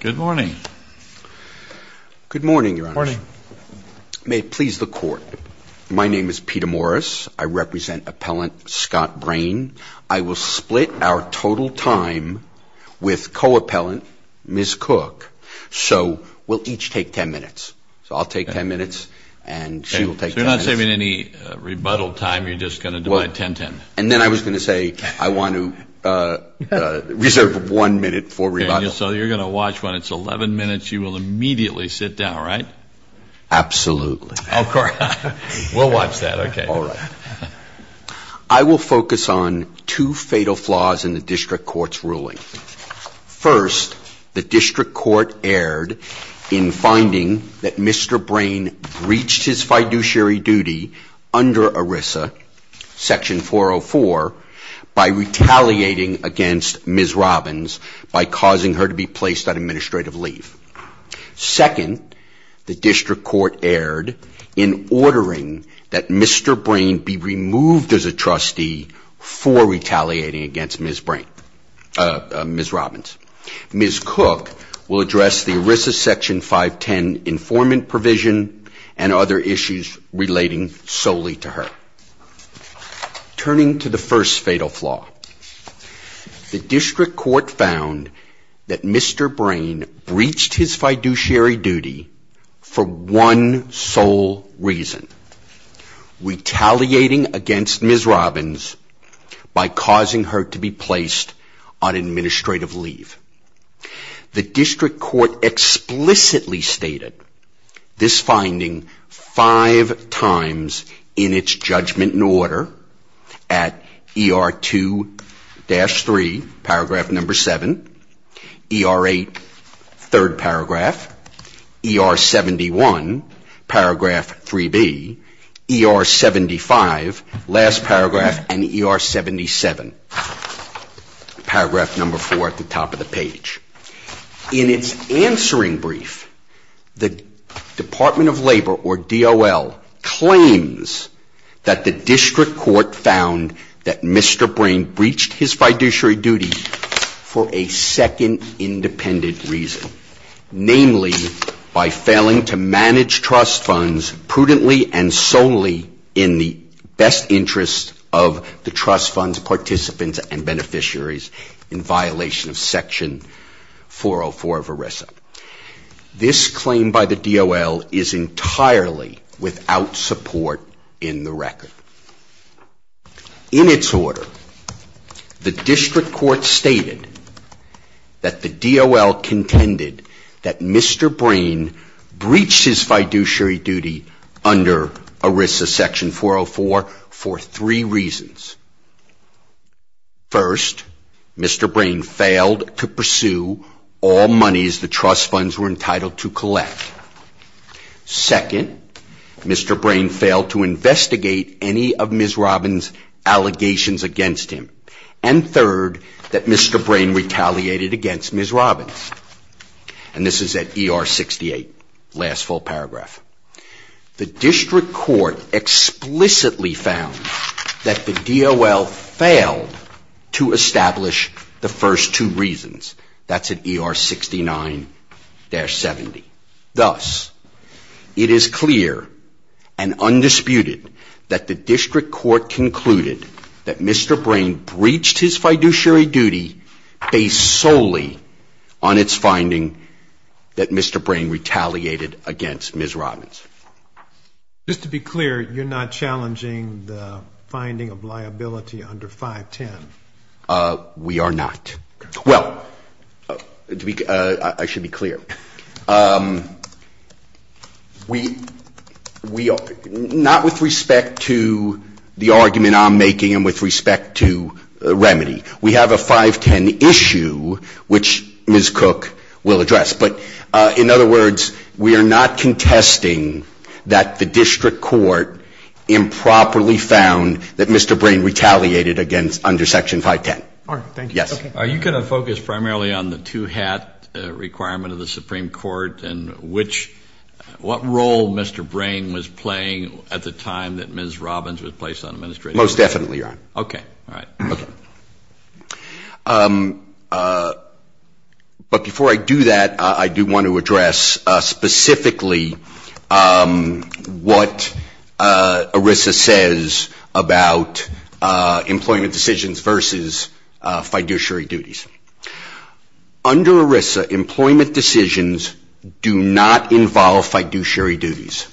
Good morning. Good morning, Your Honor. May it please the Court. My name is Peter Morris. I represent appellant Scott Brain. I will split our total time with co-appellant Ms. Cook. So we'll each take ten minutes. So I'll take ten minutes and she'll take ten minutes. You're not saving any rebuttal time? You're just gonna do a ten-ten? And then I was going to say I want to reserve one minute for rebuttal. So you're going to watch when it's eleven minutes, you will immediately sit down, right? Absolutely. Of course. We'll watch that. Okay. All right. I will focus on two fatal flaws in the District Court's ruling. First, the District Court erred in finding that Mr. Brain breached his fiduciary duty under ERISA Section 404 by retaliating against Ms. Robbins by causing her to be placed on administrative leave. Second, the District Court erred in ordering that Mr. Brain be removed as a trustee for retaliating against Ms. Robbins. Ms. Cook will address the ERISA Section 510 informant provision and other issues relating solely to her. Turning to the first fatal flaw, the District Court found that Mr. Brain breached his fiduciary duty for one sole reason, retaliating against Ms. Robbins by causing her to be placed on this finding five times in its judgment in order at ER2-3, paragraph number seven, ER8, third paragraph, ER71, paragraph 3B, ER75, last paragraph, and ER77, paragraph number four at the top of the page. In its answering brief, the Department of Labor, or DOL, claims that the District Court found that Mr. Brain breached his fiduciary duty for a second independent reason, namely, by failing to manage trust funds prudently and solely in the best interest of the trust funds participants and beneficiaries in violation of Section 404 of ERISA. This claim by the DOL is entirely without support in the record. In its order, the District Court stated that the DOL contended that Mr. Brain breached his fiduciary duty under ERISA Section 404 for three reasons. First, Mr. Brain failed to pursue all monies the trust funds were entitled to collect. Second, Mr. Brain failed to investigate any of Ms. Robbins' allegations against him. And third, that Mr. Brain retaliated against Ms. Robbins. And this is at ER68, last full paragraph. The District Court explicitly found that the DOL failed to establish the first two reasons. That's at ER69-70. Thus, it is clear and undisputed that the District Court concluded that Mr. Brain breached his fiduciary duty based solely on its finding that Mr. Brain retaliated against Ms. Robbins. Just to be clear, you're not challenging the finding of liability under 510? We are not. Well, I should be clear. Not with respect to the argument I'm making and with respect to Remedy. We have a 510 issue which Ms. Cook will address. But in other words, we are not contesting that the District Court improperly found that Mr. Brain retaliated under Section 510. All right. Thank you. Yes. Are you going to focus primarily on the two-hat requirement of the Supreme Court and what role Mr. Brain was playing at the time that Ms. Robbins was placed on administrative duty? Most definitely, Your Honor. Okay. All right. Okay. But before I do that, I do want to address specifically what ERISA says about employment decisions versus fiduciary duties. Under ERISA, employment decisions do not involve fiduciary duties.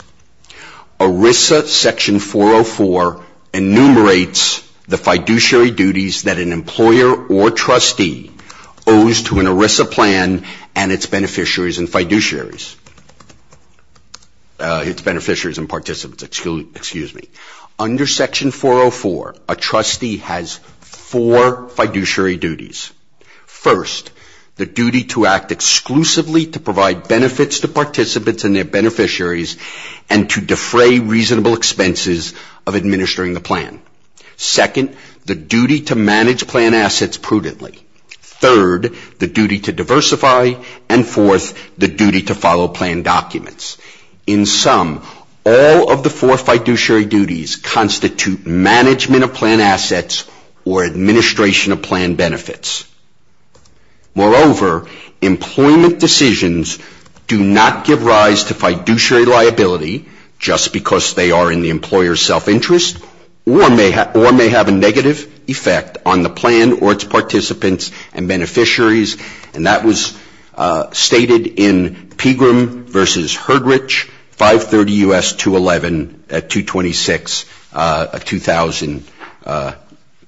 ERISA Section 404 enumerates the fiduciary duties that an employer or trustee owes to an ERISA plan and its beneficiaries and participants. Under Section 404, a trustee has four fiduciary duties. First, the duty to act exclusively to provide benefits to participants and their beneficiaries and to defray reasonable expenses of administering the plan. Second, the duty to manage plan assets prudently. Third, the duty to diversify. And fourth, the duty to follow plan documents. In sum, all of the four fiduciary duties constitute management of plan assets or administration of plan benefits. Moreover, employment decisions do not give rise to fiduciary liability just because they are in the employer's self-interest or may have a negative effect on the plan or its participants and beneficiaries. And that was stated in Pegram v. Herdrich, 530 U.S. 211 at 226, a 2000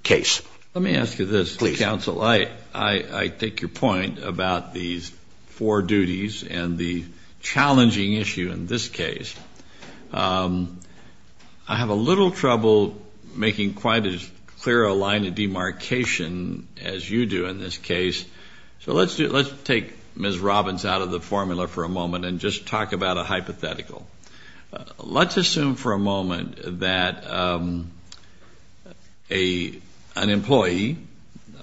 case. Let me ask you this, counsel. Please. I take your point about these four duties and the challenging issue in this case. I have a little trouble making quite as clear a line of demarcation as you do in this case. So let's take Ms. Robbins out of the formula for a moment and just talk about a hypothetical. Let's assume for a moment that an employee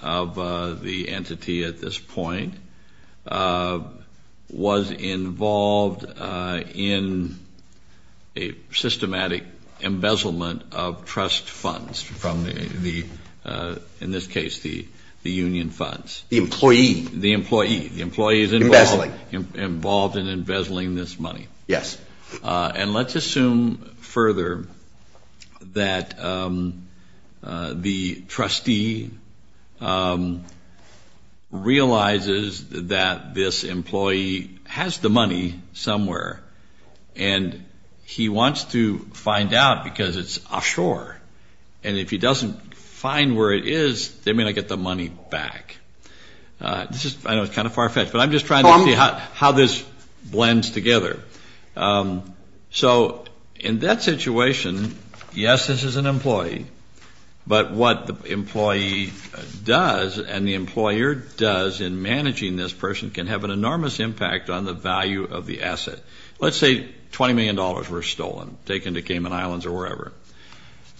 of the entity at this point was involved in a systematic embezzlement of trust funds from the, in this case, the union funds. The employee. The employee. The employee is involved in embezzling this money. Yes. And let's assume further that the trustee realizes that this employee has the money somewhere and he wants to find out because it's offshore. And if he doesn't find where it is, they may not get the money back. This is, I know it's kind of far-fetched, but I'm just trying to see how this blends together. So in that situation, yes, this is an employee, but what the employee does and the employer does in managing this person can have an enormous impact on the value of the asset. Let's say $20 million were stolen, taken to Cayman Islands or wherever.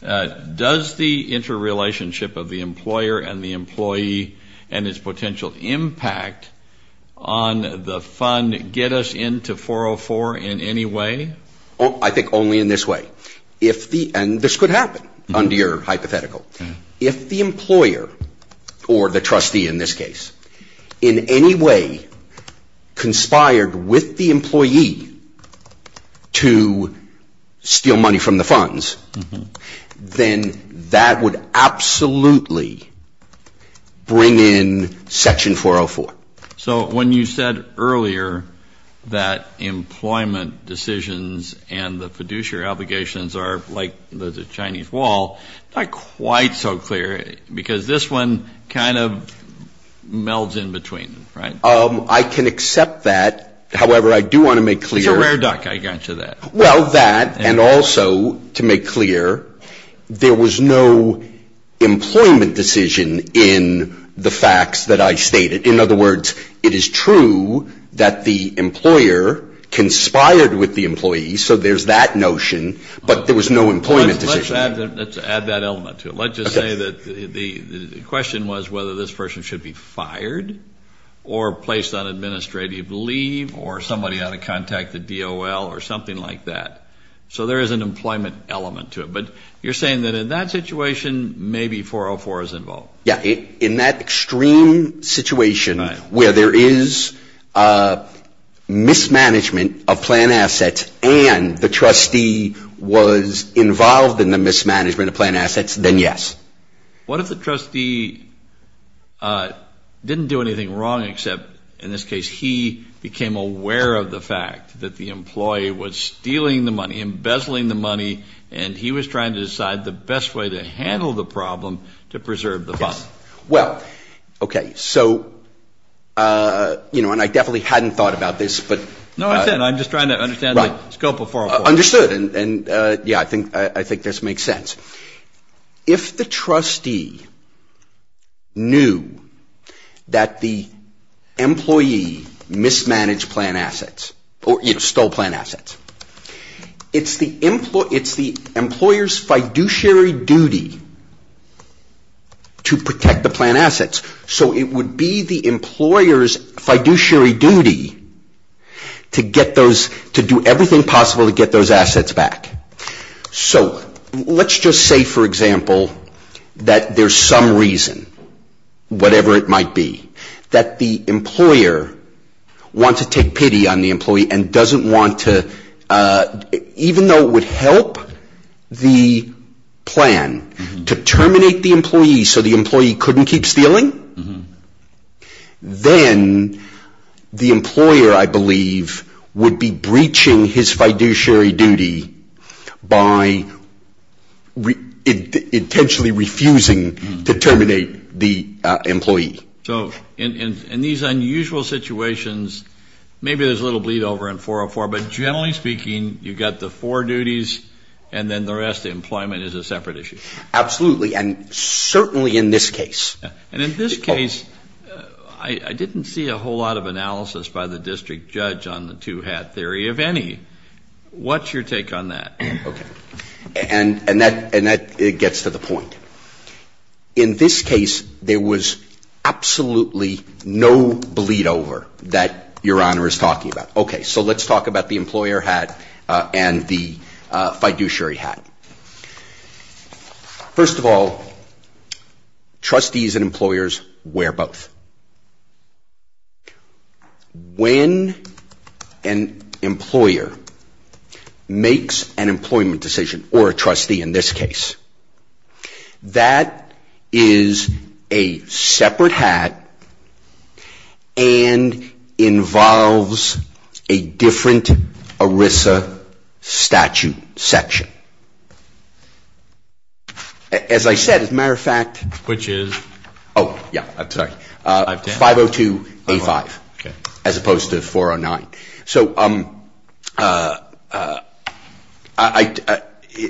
Does the interrelationship of the employer and the employee and its potential impact on the fund get us into 404 in any way? I think only in this way. And this could happen under your hypothetical. If the employer, or the trustee in this case, in any way conspired with the employee to steal money from the funds, then that would absolutely bring in Section 404. So when you said earlier that employment decisions and the fiduciary obligations are like the Chinese wall, not quite so clear because this one kind of melds in between, right? I can accept that. However, I do want to make clear... It's a rare duck, I guarantee you that. Well, that and also to make clear, there was no employment decision in the facts that I stated. In other words, it is true that the employer conspired with the employee, so there's that notion, but there was no employment decision. Let's add that element to it. Let's just say that the question was whether this person should be fired or placed on administrative leave or somebody out of contact, the DOL or something like that. So there is an employment element to it. But you're saying that in that situation, maybe 404 is involved. Yeah, in that extreme situation where there is mismanagement of plan assets and the trustee was involved in the mismanagement of plan assets, then yes. What if the trustee didn't do anything wrong, except in this case, he became aware of the fact that the employee was stealing the money, embezzling the money, and he was trying to decide the best way to handle the problem to preserve the fund? Well, okay. So, you know, and I definitely hadn't thought about this, but... No, I said I'm just trying to understand the scope of 404. Understood, and yeah, I think this makes sense. If the trustee knew that the employee mismanaged plan assets or, you know, stole plan assets, it's the employer's fiduciary duty to protect the plan assets. So it would be the employer's fiduciary duty to do everything possible to get those assets back. So let's just say, for example, that there's some reason, whatever it might be, that the employer wants to take pity on the employee and doesn't want to, even though it would help the plan to terminate the employee so the employee couldn't keep stealing, then the employer, I believe, would be breaching his fiduciary duty by intentionally refusing to terminate the employee. So in these unusual situations, maybe there's a little bleed over in 404, but generally speaking, you've got the four duties and then the rest, employment is a separate issue. Absolutely, and certainly in this case. And in this case, I didn't see a whole lot of analysis by the district judge on the two-hat theory, if any. What's your take on that? Okay, and that gets to the point. In this case, there was absolutely no bleed over that Your Honor is talking about. Okay, so let's talk about the employer hat and the fiduciary hat. First of all, trustees and employers wear both. When an employer makes an employment decision, or a trustee in this case, that is a separate hat and involves a different ERISA statute section. As I said, as a matter of fact. Which is? Oh, yeah, sorry. 502A5, as opposed to 409. So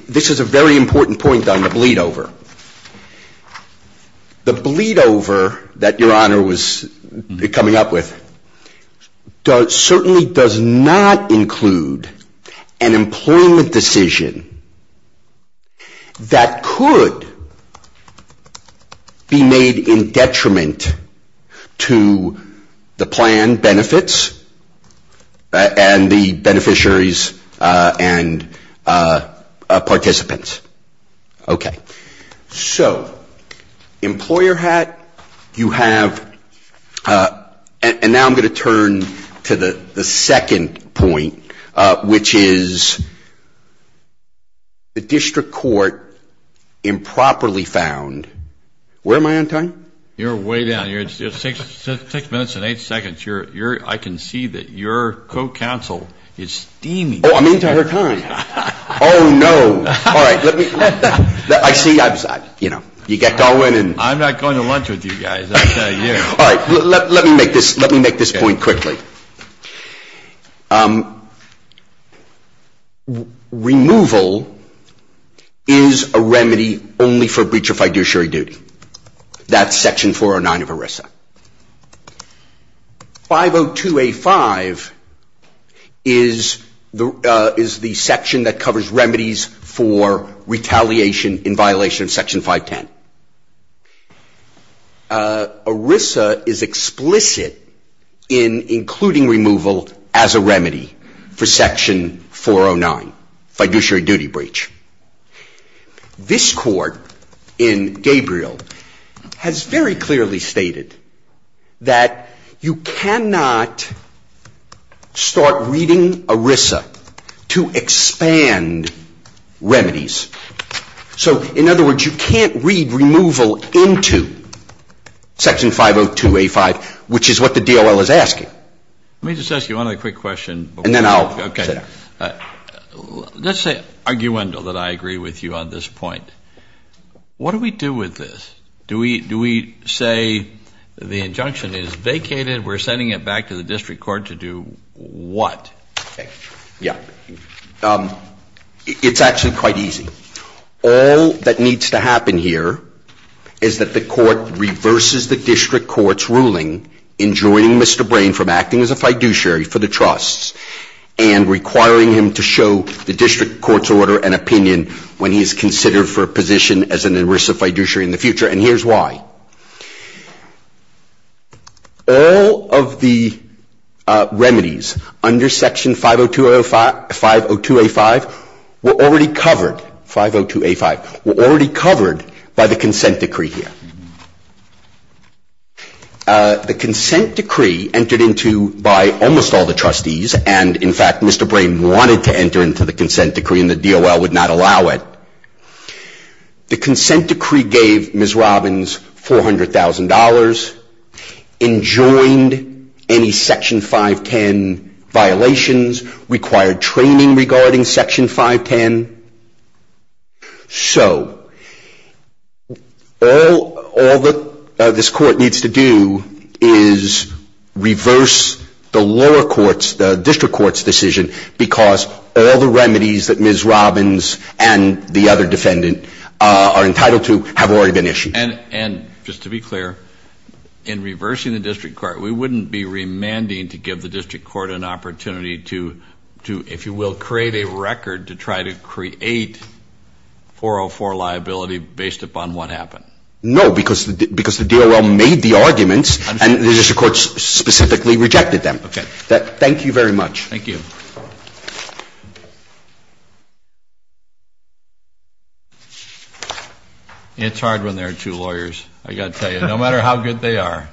this is a very important point on the bleed over. The bleed over that Your Honor was coming up with certainly does not include an employment decision that could be made in detriment to the plan benefits and the beneficiaries and participants. Okay, so employer hat, you have, and now I'm going to turn to the second point, which is the district court improperly found. Where am I on time? You're way down. You're six minutes and eight seconds. I can see that your co-counsel is steaming. Oh, I'm into her time. Oh, no. All right, let me, I see you get going. I'm not going to lunch with you guys. All right, let me make this point quickly. Removal is a remedy only for breach of fiduciary duty. That's section 409 of ERISA. 502A5 is the section that covers remedies for retaliation in violation of section 510. ERISA is explicit in including removal as a remedy for section 409, fiduciary duty breach. This court in Gabriel has very clearly stated that you cannot start reading ERISA to expand remedies. So, in other words, you can't read removal into section 502A5, which is what the DOL is asking. Let me just ask you one other quick question. And then I'll. Okay. All right. Let's say, arguendo, that I agree with you on this point. What do we do with this? Do we say the injunction is vacated? We're sending it back to the district court to do what? Yeah. It's actually quite easy. All that needs to happen here is that the court reverses the district court's ruling in joining Mr. Brain from acting as a fiduciary for the trusts and requiring him to show the district court's order and opinion when he is considered for a position as an ERISA fiduciary in the future. And here's why. All of the remedies under section 502A5 were already covered by the consent decree here. The consent decree entered into by almost all the trustees. And, in fact, Mr. Brain wanted to enter into the consent decree, and the DOL would not allow it. The consent decree gave Ms. Robbins $400,000, enjoined any section 510 violations, required training regarding section 510. And so all that this court needs to do is reverse the lower courts, the district court's decision, because all the remedies that Ms. Robbins and the other defendant are entitled to have already been issued. And just to be clear, in reversing the district court, we wouldn't be remanding to give the create 404 liability based upon what happened? No, because the DOL made the arguments, and the district court specifically rejected them. Thank you very much. Thank you. It's hard when there are two lawyers, I've got to tell you, no matter how good they are.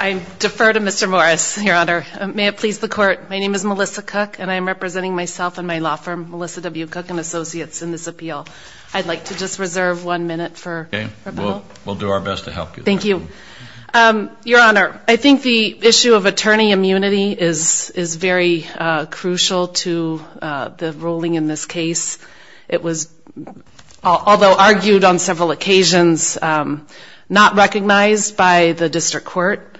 I defer to Mr. Morris, Your Honor. May it please the court, my name is Melissa Cook, and I am representing myself and my two cooking associates in this appeal. I'd like to just reserve one minute for rebuttal. We'll do our best to help you. Thank you. Your Honor, I think the issue of attorney immunity is very crucial to the ruling in this case. It was, although argued on several occasions, not recognized by the district court.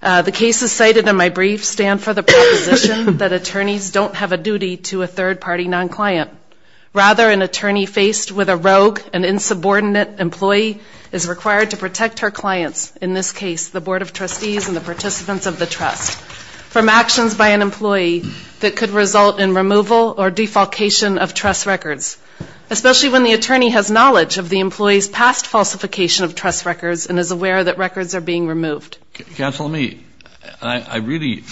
The cases cited in my brief stand for the proposition that attorneys don't have a duty to a third-party non-client. Rather, an attorney faced with a rogue and insubordinate employee is required to protect her clients, in this case, the Board of Trustees and the participants of the trust, from actions by an employee that could result in removal or defalcation of trust records, especially when the attorney has knowledge of the employee's past falsification of trust records and is aware that records are being removed. Counsel, let me, I really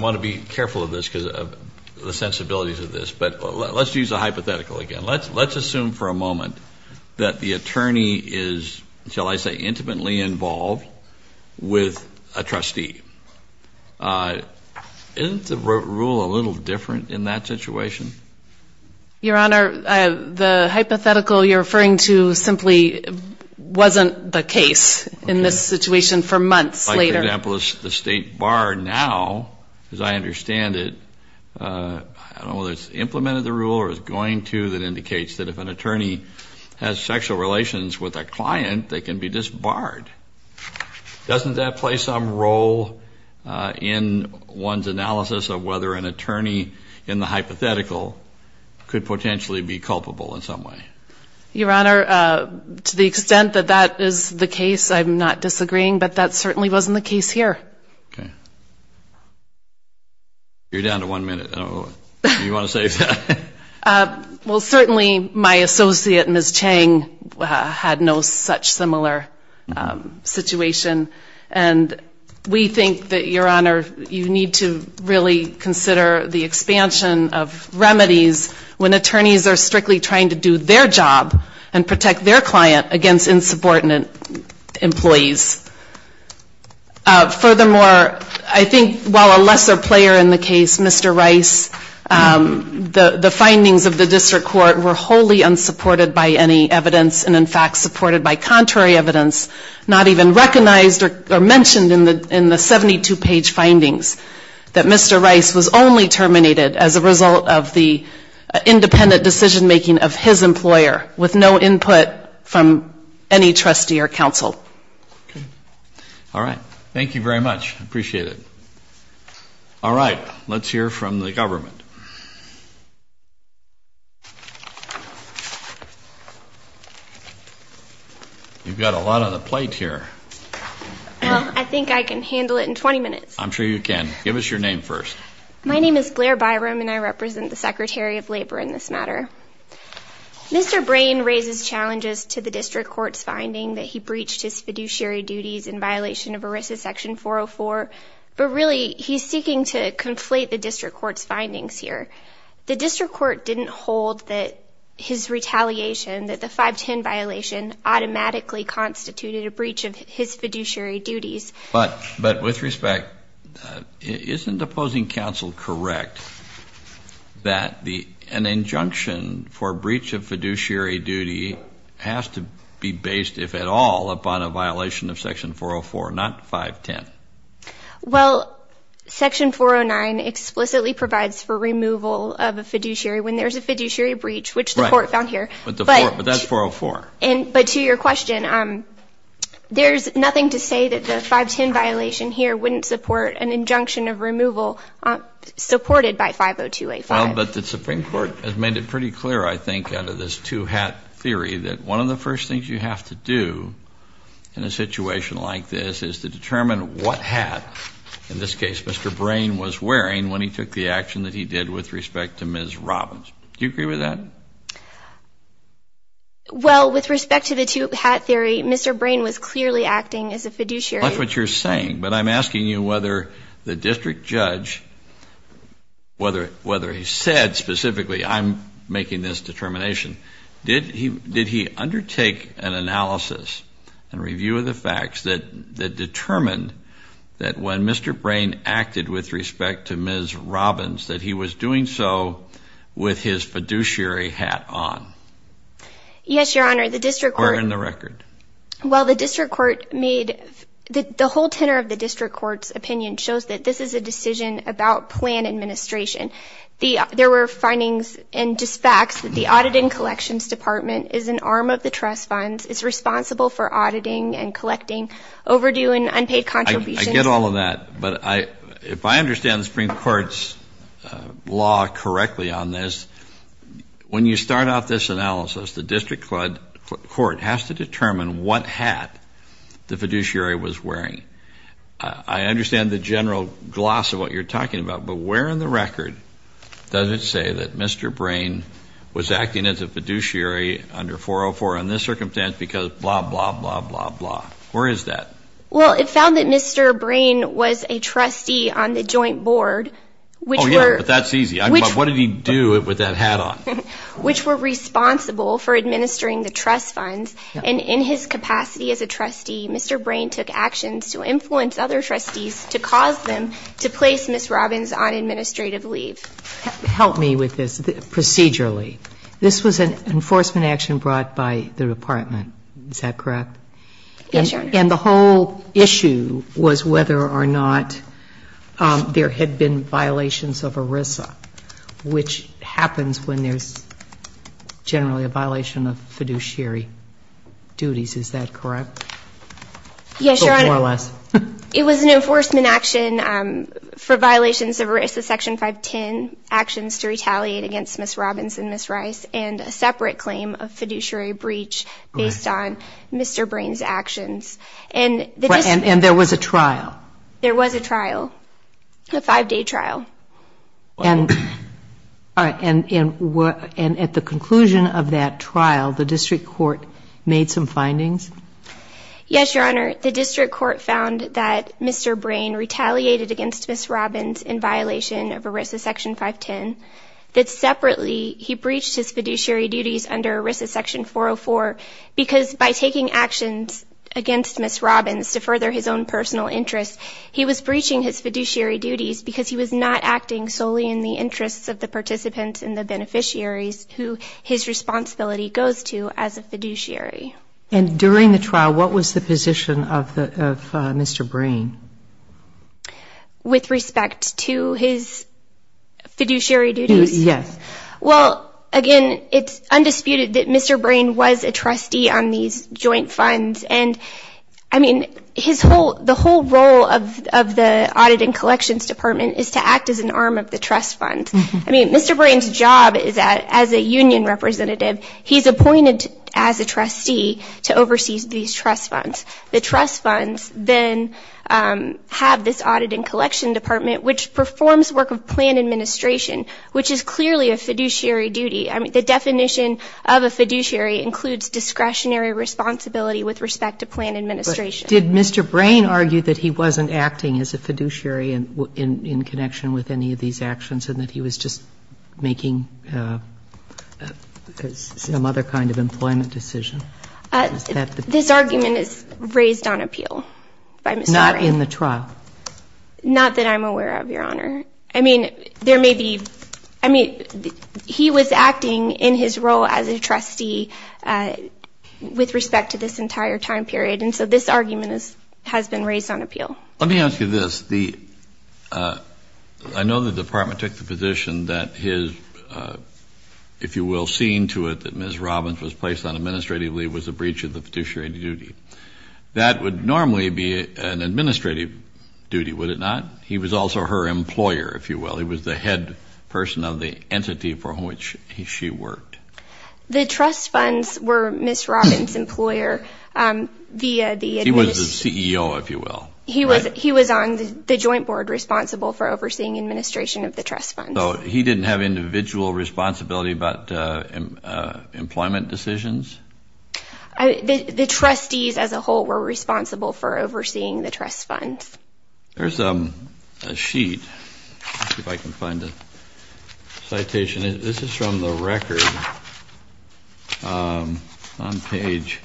want to be careful of this because of the sensibilities of this, but let's use a hypothetical again. Let's assume for a moment that the attorney is, shall I say, intimately involved with a trustee. Isn't the rule a little different in that situation? Your Honor, the hypothetical you're referring to simply wasn't the case in this situation for months later. Like, for example, the state bar now, as I understand it, I don't know whether it's implemented the rule or is going to, that indicates that if an attorney has sexual relations with a client, they can be disbarred. Doesn't that play some role in one's analysis of whether an attorney in the hypothetical could potentially be culpable in some way? Your Honor, to the extent that that is the case, I'm not disagreeing, but that certainly wasn't the case here. You're down to one minute. Well, certainly my associate, Ms. Chang, had no such similar situation. And we think that, Your Honor, you need to really consider the expansion of remedies when attorneys are strictly trying to do their job and protect their client against insubordinate employees. Furthermore, I think while a lesser player in the case, Mr. Rice, the findings of the district court were wholly unsupported by any evidence and, in fact, supported by contrary evidence, not even recognized or mentioned in the 72-page findings that Mr. Rice was only terminated as a result of the independent decision-making of his employer with no input from any trustee or counsel. All right. Thank you very much. I appreciate it. All right. Let's hear from the government. You've got a lot on the plate here. Well, I think I can handle it in 20 minutes. I'm sure you can. Give us your name first. My name is Glare Byram, and I represent the Secretary of Labor in this matter. Mr. Brain raises challenges to the district court's finding that he breached his fiduciary duties in violation of ERISA section 404, but really he's seeking to conflate the district court's findings here. The district court didn't hold that his retaliation, that the 510 violation, automatically constituted a breach of his fiduciary duties. But with respect, isn't opposing counsel correct that an injunction for breach of fiduciary duty has to be based, if at all, upon a violation of section 404, not 510? Well, section 409 explicitly provides for removal of a fiduciary when there's a fiduciary breach, which the court found here. But that's 404. But to your question, there's nothing to say that the 510 violation here wouldn't support an injunction of removal supported by 502A5. But the Supreme Court has made it pretty clear, I think, out of this two-hat theory, that one of the first things you have to do in a situation like this is to determine what hat, in this case, Mr. Brain was wearing when he took the action that he did with respect to Ms. Robbins. Do you agree with that? Well, with respect to the two-hat theory, Mr. Brain was clearly acting as a fiduciary. That's what you're saying. But I'm asking you whether the district judge, whether he said specifically, I'm making this determination, did he undertake an analysis and review of the facts that determined that when Mr. Brain acted with respect to Ms. Robbins, that he was doing so with his fiduciary hat on? Yes, Your Honor. The district court— Where in the record? Well, the district court made—the whole tenor of the district court's opinion shows that this is a decision about plan administration. There were findings and just facts that the Auditing and Collections Department is an arm of the trust funds, is responsible for auditing and collecting overdue and unpaid contributions— I get all of that. If I understand the Supreme Court's law correctly on this, when you start out this analysis, the district court has to determine what hat the fiduciary was wearing. I understand the general gloss of what you're talking about, but where in the record does it say that Mr. Brain was acting as a fiduciary under 404 in this circumstance because blah, blah, blah, blah, blah? Where is that? Well, it found that Mr. Brain was a trustee on the joint board, which were— Oh, yeah, but that's easy. What did he do with that hat on? Which were responsible for administering the trust funds, and in his capacity as a trustee, Mr. Brain took actions to influence other trustees to cause them to place Ms. Robbins on administrative leave. Help me with this procedurally. This was an enforcement action brought by the department, is that correct? Yes, Your Honor. And the whole issue was whether or not there had been violations of ERISA, which happens when there's generally a violation of fiduciary duties, is that correct? Yes, Your Honor. It was an enforcement action for violations of ERISA section 510, actions to retaliate against Ms. Robbins and Ms. Rice, and a separate claim of fiduciary breach based on Mr. Brain. And there was a trial? There was a trial, a five-day trial. And at the conclusion of that trial, the district court made some findings? Yes, Your Honor. The district court found that Mr. Brain retaliated against Ms. Robbins in violation of ERISA section 510, that separately he breached his fiduciary duties under ERISA section 404, because by taking actions against Ms. Robbins to further his own personal interests, he was breaching his fiduciary duties because he was not acting solely in the interests of the participants and the beneficiaries who his responsibility goes to as a fiduciary. And during the trial, what was the position of Mr. Brain? With respect to his fiduciary duties? Yes. Well, again, it's undisputed that Mr. Brain was a trustee on these joint funds. And I mean, his whole, the whole role of the Audit and Collections Department is to act as an arm of the trust funds. I mean, Mr. Brain's job is that as a union representative, he's appointed as a trustee to oversee these trust funds. The trust funds then have this Audit and Collection Department, which performs work of administration, which is clearly a fiduciary duty. I mean, the definition of a fiduciary includes discretionary responsibility with respect to plan administration. Did Mr. Brain argue that he wasn't acting as a fiduciary in connection with any of these actions and that he was just making some other kind of employment decision? This argument is raised on appeal by Mr. Brain. Not in the trial? Not that I'm aware of, Your Honor. I mean, there may be, I mean, he was acting in his role as a trustee with respect to this entire time period. And so this argument has been raised on appeal. Let me ask you this. I know the Department took the position that his, if you will, scene to it that Ms. Robbins was placed on administrative leave was a breach of the fiduciary duty. That would normally be an administrative duty, would it not? He was also her employer, if you will. He was the head person of the entity for which she worked. The trust funds were Ms. Robbins' employer via the administration. He was the CEO, if you will. He was on the joint board responsible for overseeing administration of the trust funds. So he didn't have individual responsibility about employment decisions? The trustees as a whole were responsible for overseeing the trust funds. There's a sheet, if I can find the citation. This is from the record on page,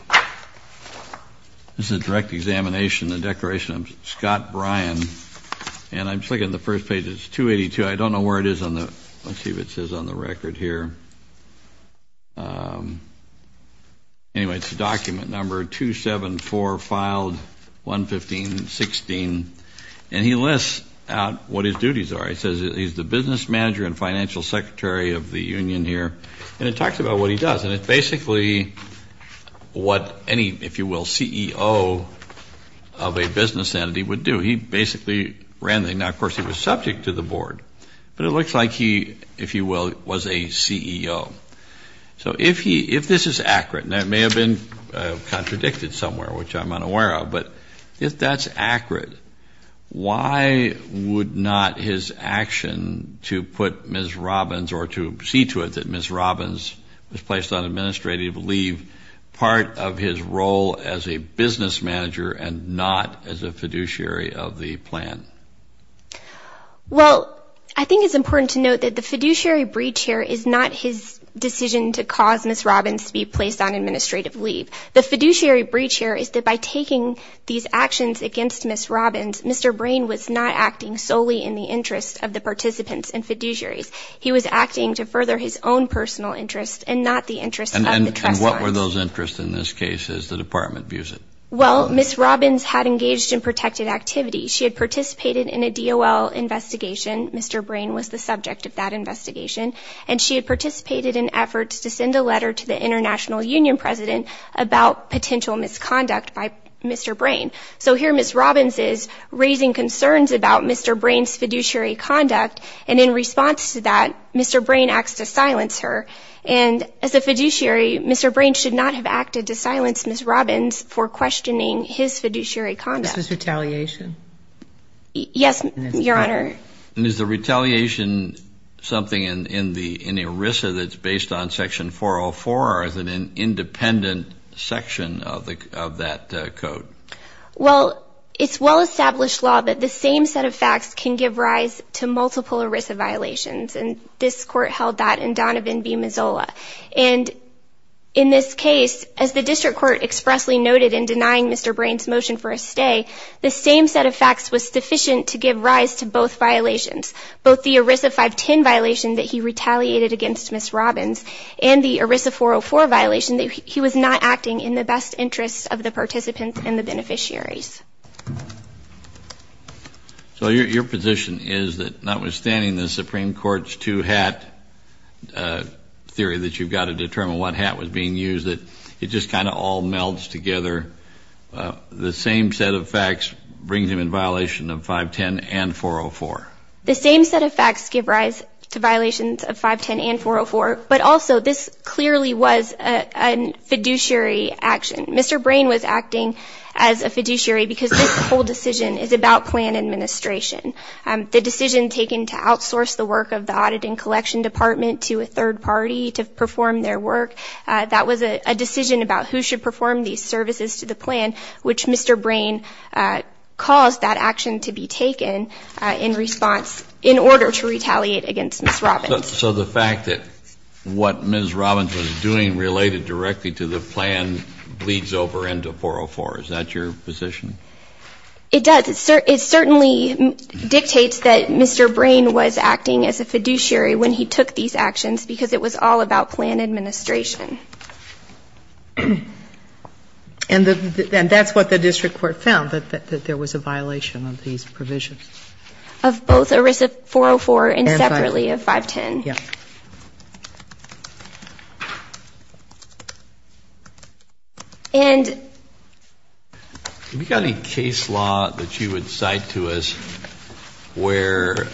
this is a direct examination, the declaration of Scott Bryan. And I'm just looking at the first page, it's 282. I don't know where it is on the, let's see if it says on the record here. Anyway, it's a document number 274 filed 115-16. And he lists out what his duties are. It says he's the business manager and financial secretary of the union here. And it talks about what he does. And it's basically what any, if you will, CEO of a business entity would do. He basically ran the, now of course he was subject to the board. But it looks like he, if you will, was a CEO. So if he, if this is accurate, and that may have been contradicted somewhere, which I'm unaware of. But if that's accurate, why would not his action to put Ms. Robbins, or to see to it that Ms. Robbins was placed on administrative leave, part of his role as a business manager and not as a fiduciary of the plan? Well, I think it's important to note that the fiduciary breach here is not his decision to cause Ms. Robbins to be placed on administrative leave. The fiduciary breach here is that by taking these actions against Ms. Robbins, Mr. Brain was not acting solely in the interest of the participants and fiduciaries. He was acting to further his own personal interest and not the interest of the trust funds. And what were those interests in this case, as the department views it? Well, Ms. Robbins had engaged in protected activity. She had participated in a DOL investigation. Mr. Brain was the subject of that investigation. And she had participated in efforts to send a letter to the international union president about potential misconduct by Mr. Brain. So here Ms. Robbins is raising concerns about Mr. Brain's fiduciary conduct. And in response to that, Mr. Brain acts to silence her. And as a fiduciary, Mr. Brain should not have acted to silence Ms. Robbins for questioning his fiduciary conduct. This was retaliation? Yes, Your Honor. And is the retaliation something in ERISA that's based on section 404 or is it an independent section of that code? Well, it's well-established law that the same set of facts can give rise to multiple ERISA violations. And this court held that in Donovan v. Mazzola. And in this case, as the district court expressly noted in denying Mr. Brain's motion for a stay, the same set of facts was sufficient to give rise to both violations. Both the ERISA 510 violation that he retaliated against Ms. Robbins and the ERISA 404 violation that he was not acting in the best interest of the participants and the beneficiaries. So your position is that notwithstanding the Supreme Court's two-hat theory that you've got to determine what hat was being used, that it just kind of all melds together. The same set of facts brings him in violation of 510 and 404? The same set of facts give rise to violations of 510 and 404. But also, this clearly was a fiduciary action. Mr. Brain was acting as a fiduciary because this whole decision is about plan administration. The decision taken to outsource the work of the Audit and Collection Department to a third party to perform their work, that was a decision about who should perform these services to the plan, which Mr. Brain caused that action to be taken in response, in order to retaliate against Ms. Robbins. So the fact that what Ms. Robbins was doing related directly to the plan bleeds over into 404. Is that your position? It does. It certainly dictates that Mr. Brain was acting as a fiduciary when he took these actions because it was all about plan administration. And that's what the district court found, that there was a violation of these provisions. Of both ERISA 404 and separately of 510. Yeah. And... Have you got any case law that you would cite to us where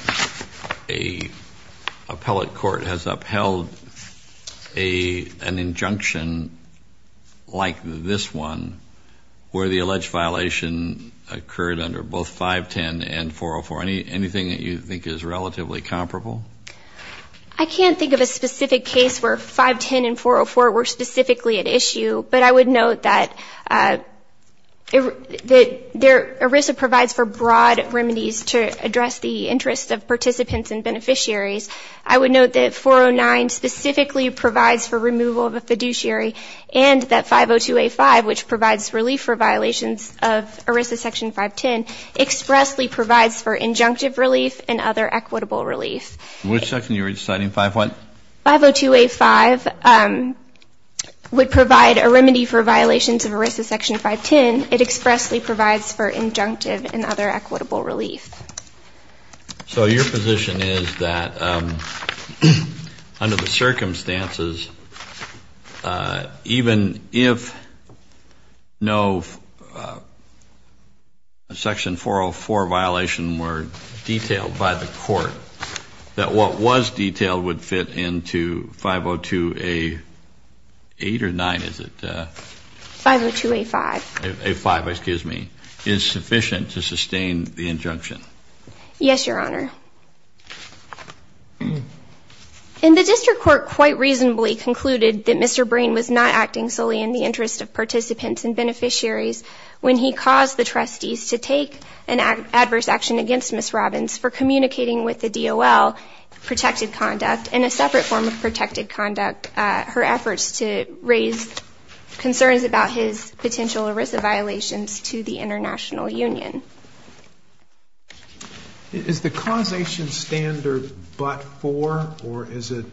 an appellate court has upheld an injunction like this one, where the alleged violation occurred under both 510 and 404? Anything that you think is relatively comparable? I can't think of a specific case where 510 and 404 were specifically at issue, but I would note that ERISA provides for broad remedies to address the interests of participants and beneficiaries. I would note that 409 specifically provides for removal of a fiduciary and that 502A5, which provides relief for violations of ERISA section 510, expressly provides for injunctive relief and other equitable relief. Which section are you citing, 501? 502A5 would provide a remedy for violations of ERISA section 510. It expressly provides for injunctive and other equitable relief. So your position is that under the circumstances, even if no section 404 violation were detailed by the court, that what was detailed would fit into 502A8 or 9, is it? 502A5. A5, excuse me. Is sufficient to sustain the injunction? Yes, Your Honor. And the district court quite reasonably concluded that Mr. Breen was not acting solely in the interest of participants and beneficiaries when he caused the trustees to take an adverse action against Ms. Robbins for communicating with the DOL protected conduct in a separate form of protected conduct. Her efforts to raise concerns about his potential ERISA violations to the international union. Is the causation standard but-for or is it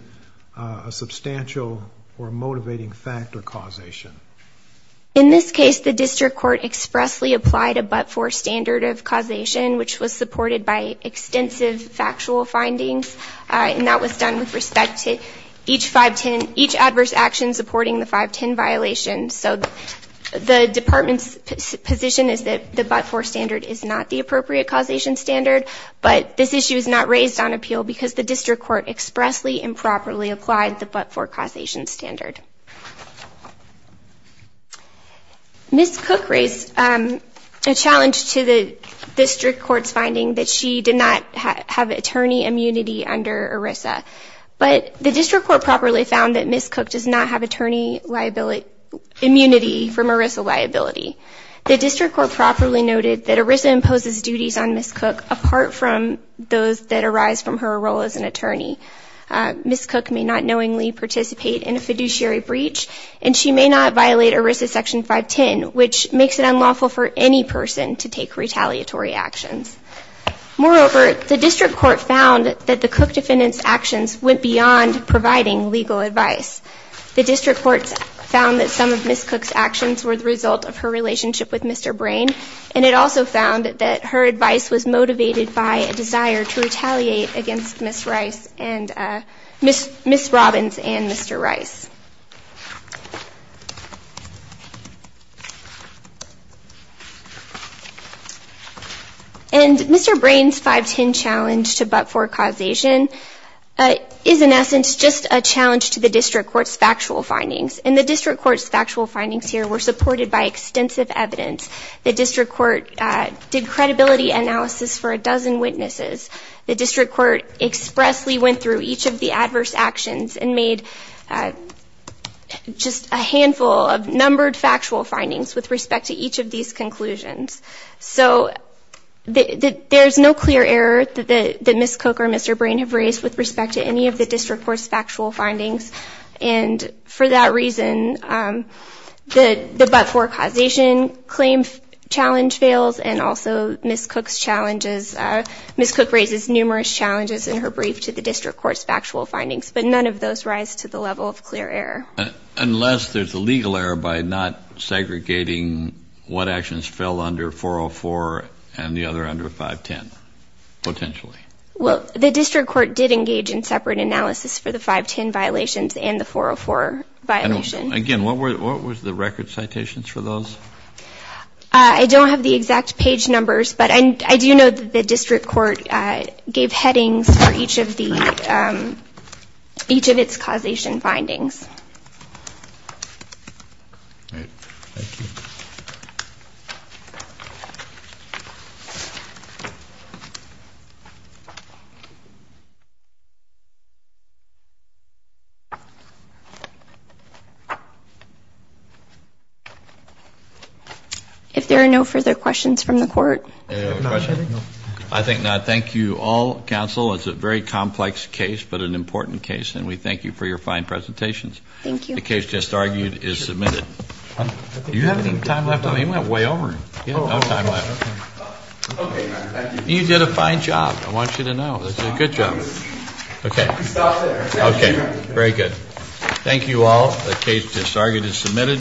a substantial or a motivating factor causation? In this case, the district court expressly applied a but-for standard of causation, which was supported by extensive factual findings. And that was done with respect to each 510, each adverse action supporting the 510 violation. So the department's position is that the but-for standard is not the appropriate causation standard. But this issue is not raised on appeal because the district court expressly improperly applied the but-for causation standard. Ms. Cook raised a challenge to the district court's finding that she did not have attorney immunity under ERISA. But the district court properly found that Ms. Cook does not have attorney liability immunity from ERISA liability. The district court properly noted that ERISA imposes duties on Ms. Cook apart from those that arise from her role as an attorney. Ms. Cook may not knowingly participate in a fiduciary breach and she may not violate ERISA section 510, which makes it unlawful for any person to take retaliatory actions. Moreover, the district court found that the Cook defendant's actions went beyond providing legal advice. The district court found that some of Ms. Cook's actions were the result of her relationship with Mr. Brain. And it also found that her advice was motivated by a desire to retaliate against Ms. Rice and Ms. Robbins and Mr. Rice. And Mr. Brain's 510 challenge to but-for causation is in essence just a challenge to the district court's factual findings. And the district court's factual findings here were supported by extensive evidence. The district court did credibility analysis for a dozen witnesses. The district court expressly went through each of the adverse actions and made just a handful of numbered factual findings with respect to each of these conclusions. So there's no clear error that Ms. Cook or Mr. Brain have raised with respect to any of the district court's factual findings. And for that reason, the but-for causation claim challenge fails. And also Ms. Cook's challenges, Ms. Cook raises numerous challenges in her brief to the district court's factual findings. But none of those rise to the level of clear error. Unless there's a legal error by not segregating what actions fell under 404 and the other under 510, potentially. Well, the district court did engage in separate analysis for the 510 violations and the 404 violation. Again, what was the record citations for those? I don't have the exact page numbers. But I do know that the district court gave headings for each of the each of its causation findings. If there are no further questions from the court. I think not. Thank you all, counsel. It's a very complex case. But an important case. And we thank you for your fine presentations. Thank you. The case just argued is submitted. You have any time left? I mean, you went way over. You have no time left. You did a fine job. I want you to know. That's a good job. Okay. Okay. Very good. Thank you all. The case just argued is submitted.